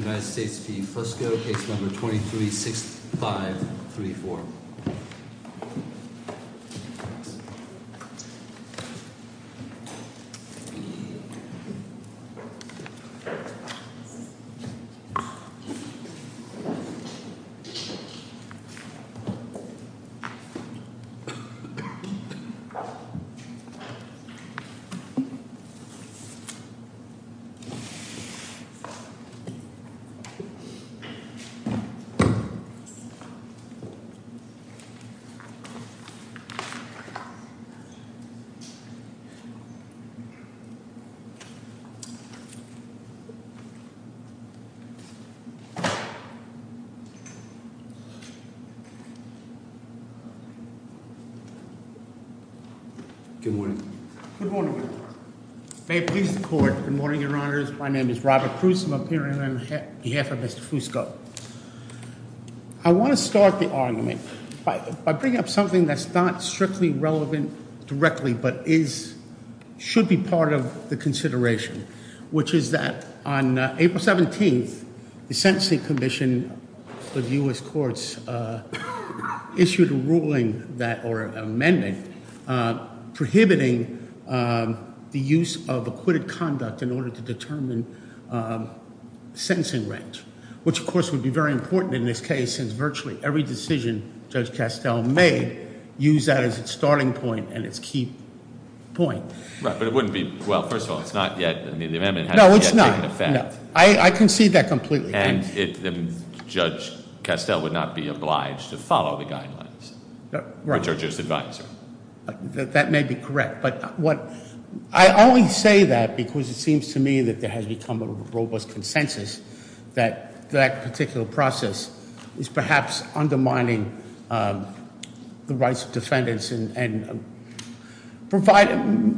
United States v. Fusco, case number 236534. Good morning. Good morning, your honor. May it please the court. Good morning, your honors. My name is Robert Cruz. I'm appearing on behalf of Mr. Fusco. I want to start the argument by bringing up something that's not strictly relevant directly, but is, should be part of the consideration, which is that on April 17th, the Sentencing Commission of U.S. Courts issued a ruling that or amendment prohibiting the use of acquitted conduct in order to determine the minimum sentencing range, which, of course, would be very important in this case, since virtually every decision Judge Castell made used that as its starting point and its key point. Right, but it wouldn't be, well, first of all, it's not yet, I mean, the amendment hasn't yet taken effect. No, it's not. I concede that completely. And Judge Castell would not be obliged to follow the guidelines. That may be correct, but what, I only say that because it seems to me that there has become a robust consensus that that particular process is perhaps undermining the rights of defendants and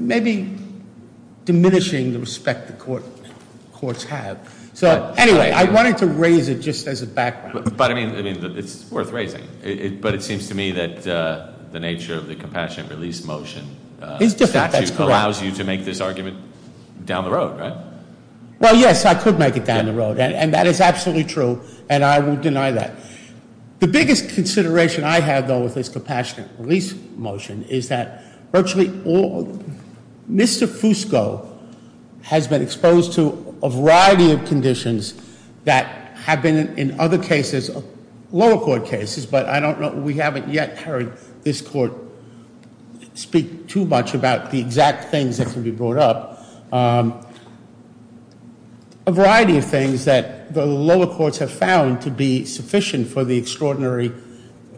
maybe diminishing the respect the courts have. So, anyway, I wanted to raise it just as a background. But, I mean, it's worth raising, but it seems to me that the nature of the Compassionate Release Motion statute allows you to make this argument down the road, right? Well, yes, I could make it down the road, and that is absolutely true, and I will deny that. The biggest consideration I have, though, with this Compassionate Release Motion is that virtually all, Mr. Fusco has been exposed to a variety of conditions that have been in other cases, lower court cases, but I don't know, we haven't yet heard this court speak too much about the exact things that can be brought up. A variety of things that the lower courts have found to be sufficient for the extraordinary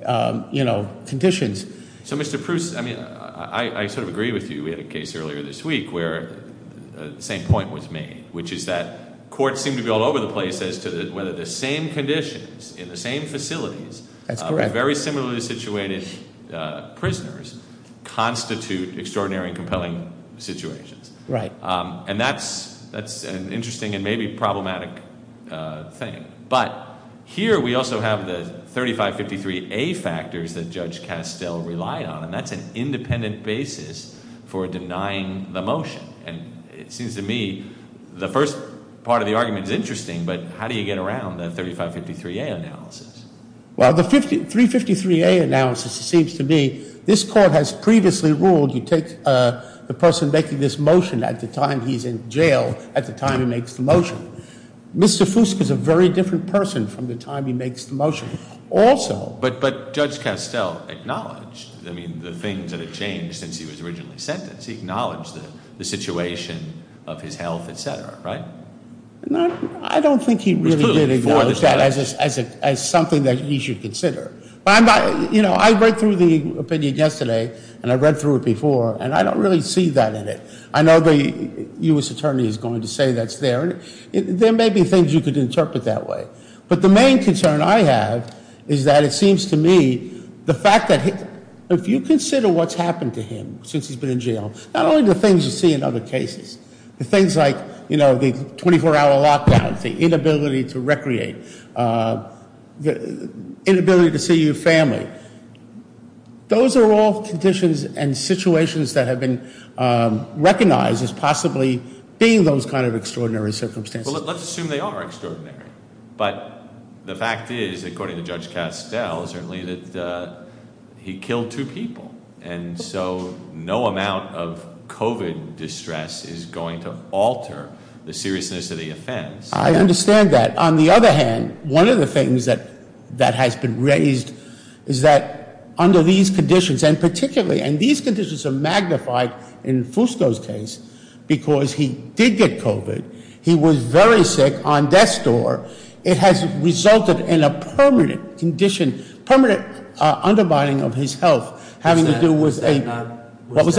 conditions. So, Mr. Proust, I mean, I sort of agree with you. We had a case earlier this week where the same point was made, which is that courts seem to be all over the place as to whether the same conditions in the same facilities- That's correct. Very similarly situated prisoners constitute extraordinary and compelling situations. Right. And that's an interesting and maybe problematic thing. But here we also have the 3553A factors that Judge Castell relied on, and that's an independent basis for denying the motion. And it seems to me the first part of the argument is interesting, but how do you get around the 3553A analysis? Well, the 353A analysis, it seems to me, this court has previously ruled you take the person making this motion at the time he's in jail at the time he makes the motion. Mr. Fusco is a very different person from the time he makes the motion. Also- But Judge Castell acknowledged, I mean, the things that had changed since he was originally sentenced. He acknowledged the situation of his health, et cetera, right? I don't think he really did acknowledge that as something that he should consider. I read through the opinion yesterday, and I read through it before, and I don't really see that in it. I know the U.S. Attorney is going to say that's there, and there may be things you could interpret that way. But the main concern I have is that it seems to me the fact that if you consider what's happened to him since he's been in jail, not only the things you see in other cases, the things like the 24-hour lockdown, the inability to recreate, the inability to see your family, those are all conditions and situations that have been recognized as possibly being those kind of extraordinary circumstances. Well, let's assume they are extraordinary. But the fact is, according to Judge Castell, certainly, that he killed two people. And so no amount of COVID distress is going to alter the seriousness of the offense. I understand that. On the other hand, one of the things that has been raised is that under these conditions, and particularly, and these conditions are magnified in Fusco's case because he did get COVID. He was very sick on death's door. It has resulted in a permanent condition, permanent undermining of his health having to do with a- Was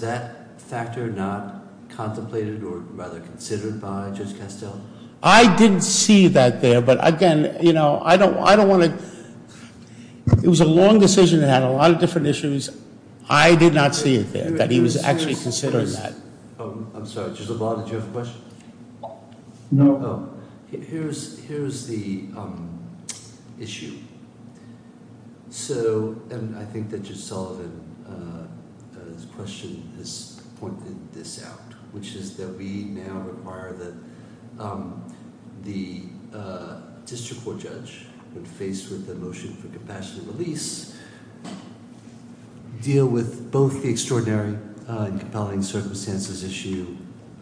that factor not contemplated or rather considered by Judge Castell? I didn't see that there. But again, I don't want to- It was a long decision that had a lot of different issues. I did not see it there, that he was actually considering that. I'm sorry, Judge LaValle, did you have a question? No. Oh. Here's the issue. So, and I think that Judge Sullivan's question has pointed this out, which is that we now require that the district court judge, when faced with the motion for compassionate release, deal with both the extraordinary and compelling circumstances issue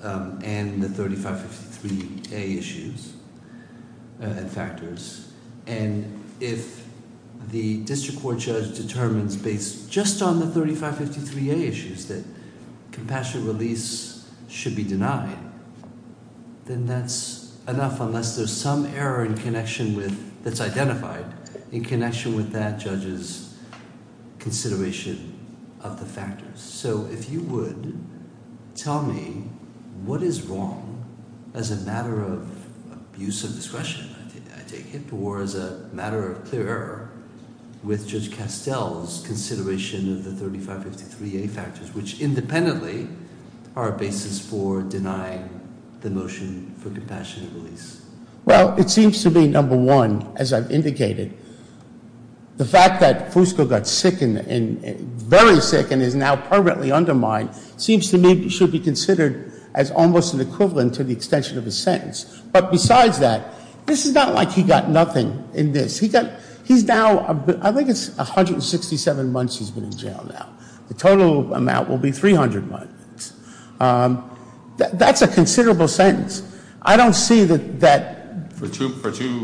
and the 3553A issues and factors. If the district court judge determines based just on the 3553A issues that compassionate release should be denied, then that's enough unless there's some error in connection with, that's identified. In connection with that, Judge's consideration of the factors. So, if you would tell me what is wrong as a matter of abuse of discretion, I take it, or as a matter of clear error with Judge Castell's consideration of the 3553A factors, which independently are a basis for denying the motion for compassionate release. Well, it seems to me, number one, as I've indicated, the fact that Fusco got sick, and very sick, and is now permanently under mine, seems to me should be considered as almost an equivalent to the extension of his sentence. But besides that, this is not like he got nothing in this. He's now, I think it's 167 months he's been in jail now. The total amount will be 300 months. That's a considerable sentence. I don't see that. For two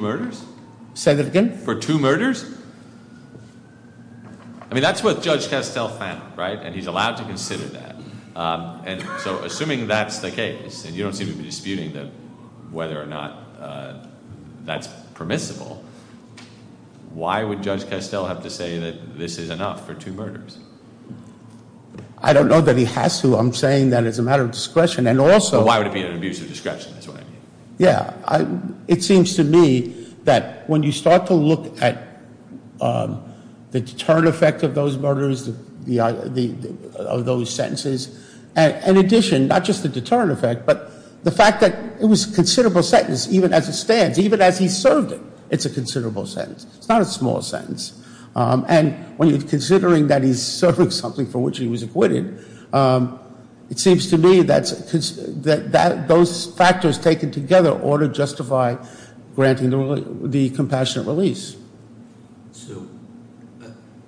murders? Say that again? For two murders? I mean, that's what Judge Castell found, right? And he's allowed to consider that. So, assuming that's the case, and you don't seem to be disputing whether or not that's permissible, why would Judge Castell have to say that this is enough for two murders? I don't know that he has to. I'm saying that as a matter of discretion. But why would it be an abusive discretion? Yeah, it seems to me that when you start to look at the deterrent effect of those murders, of those sentences, in addition, not just the deterrent effect, but the fact that it was a considerable sentence even as it stands, even as he served it. It's a considerable sentence. It's not a small sentence. And when you're considering that he's serving something for which he was acquitted, it seems to me that those factors taken together ought to justify granting the compassionate release. So,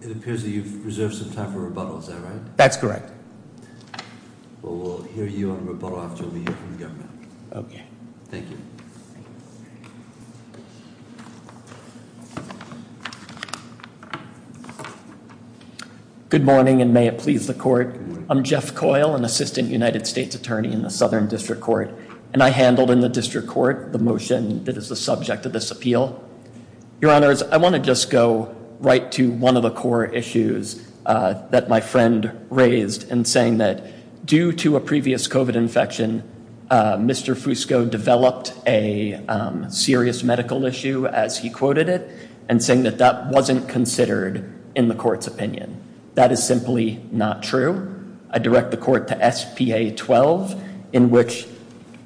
it appears that you've reserved some time for rebuttal. Is that right? That's correct. Well, we'll hear you on rebuttal after we hear from the government. Okay. Thank you. Thank you. Good morning, and may it please the Court. Good morning. I'm Jeff Coyle, an Assistant United States Attorney in the Southern District Court, and I handled in the District Court the motion that is the subject of this appeal. Your Honors, I want to just go right to one of the core issues that my friend raised and saying that due to a previous COVID infection, Mr. Fusco developed a serious medical issue, as he quoted it, and saying that that wasn't considered in the Court's opinion. That is simply not true. I direct the Court to SPA 12, in which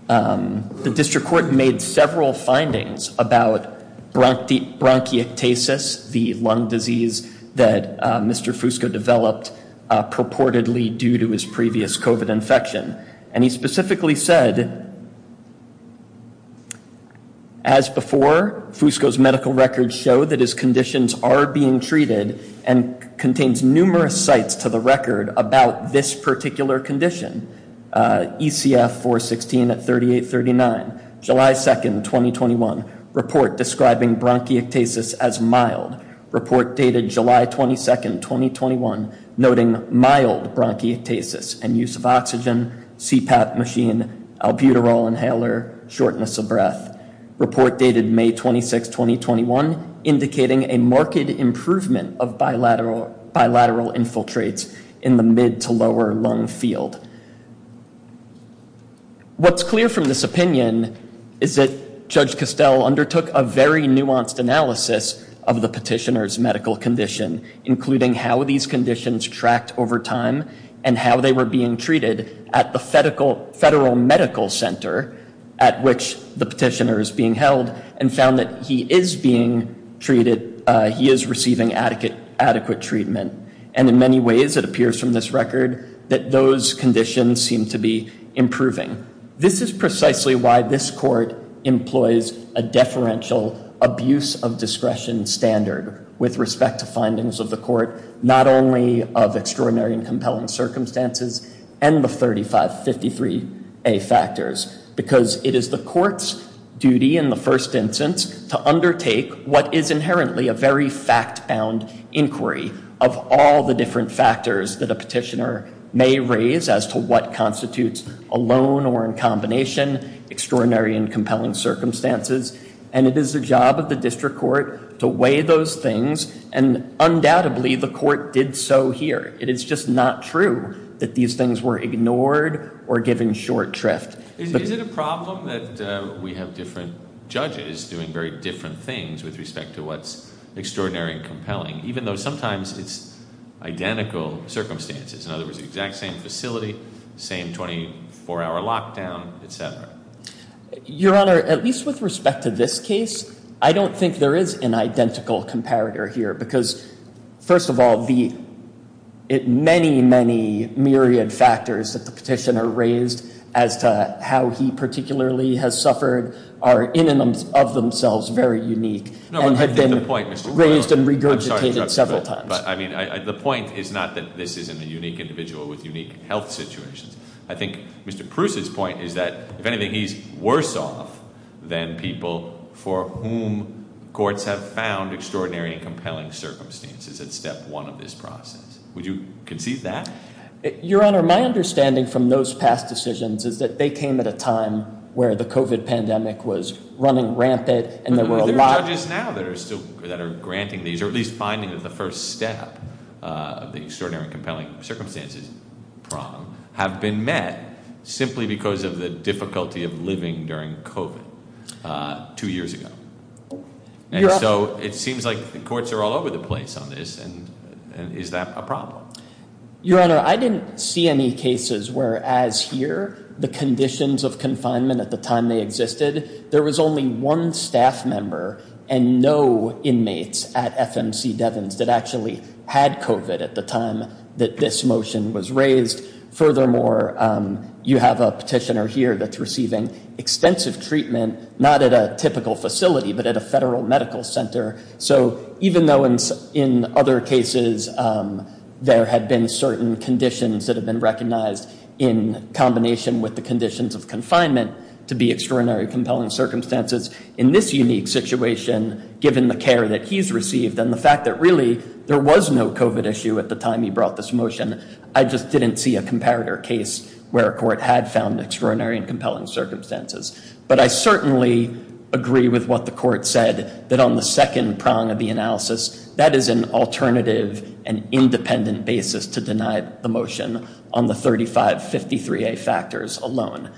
the District Court made several findings about bronchiectasis, the lung disease that Mr. Fusco developed purportedly due to his previous COVID infection. And he specifically said, as before, Fusco's medical records show that his conditions are being treated and contains numerous sites to the record about this particular condition. ECF 416 at 3839. July 2nd, 2021, report describing bronchiectasis as mild. Report dated July 22nd, 2021, noting mild bronchiectasis and use of oxygen, CPAP machine, albuterol inhaler, shortness of breath. Report dated May 26th, 2021, indicating a marked improvement of bilateral infiltrates in the mid to lower lung field. What's clear from this opinion is that Judge Costell undertook a very nuanced analysis of the petitioner's medical condition, including how these conditions tracked over time and how they were being treated at the federal medical center at which the petitioner is being held and found that he is being treated, he is receiving adequate treatment. And in many ways, it appears from this record that those conditions seem to be improving. This is precisely why this Court employs a deferential abuse of discretion standard with respect to findings of the Court, not only of extraordinary and compelling circumstances and the 3553A factors, because it is the Court's duty in the first instance to undertake what is inherently a very fact-bound inquiry of all the different factors that a petitioner may raise as to what constitutes alone or in combination extraordinary and compelling circumstances. And it is the job of the District Court to weigh those things. And undoubtedly, the Court did so here. It is just not true that these things were ignored or given short shrift. Is it a problem that we have different judges doing very different things with respect to what's extraordinary and compelling, even though sometimes it's identical circumstances? In other words, the exact same facility, same 24-hour lockdown, et cetera? Your Honor, at least with respect to this case, I don't think there is an identical comparator here because, first of all, the many, many myriad factors that the petitioner raised as to how he particularly has suffered are in and of themselves very unique and have been raised and regurgitated several times. But I mean, the point is not that this isn't a unique individual with unique health situations. I think Mr. Proust's point is that, if anything, he's worse off than people for whom courts have found extraordinary and compelling circumstances at step one of this process. Would you concede that? Your Honor, my understanding from those past decisions is that they came at a time where the COVID pandemic was running rampant and there were a lot of— There are judges now that are granting these, or at least finding that the first step of the extraordinary and compelling circumstances problem have been met simply because of the difficulty of living during COVID two years ago. And so it seems like the courts are all over the place on this, and is that a problem? Your Honor, I didn't see any cases where, as here, the conditions of confinement at the time they existed, there was only one staff member and no inmates at FMC Devens that actually had COVID at the time that this motion was raised. Furthermore, you have a petitioner here that's receiving extensive treatment, not at a typical facility, but at a federal medical center. So even though in other cases there had been certain conditions that had been recognized in combination with the conditions of confinement to be extraordinary and compelling circumstances, in this unique situation, given the care that he's received and the fact that really there was no COVID issue at the time he brought this motion, I just didn't see a comparator case where a court had found extraordinary and compelling circumstances. But I certainly agree with what the court said, that on the second prong of the analysis, that is an alternative and independent basis to deny the motion on the 3553A factors alone.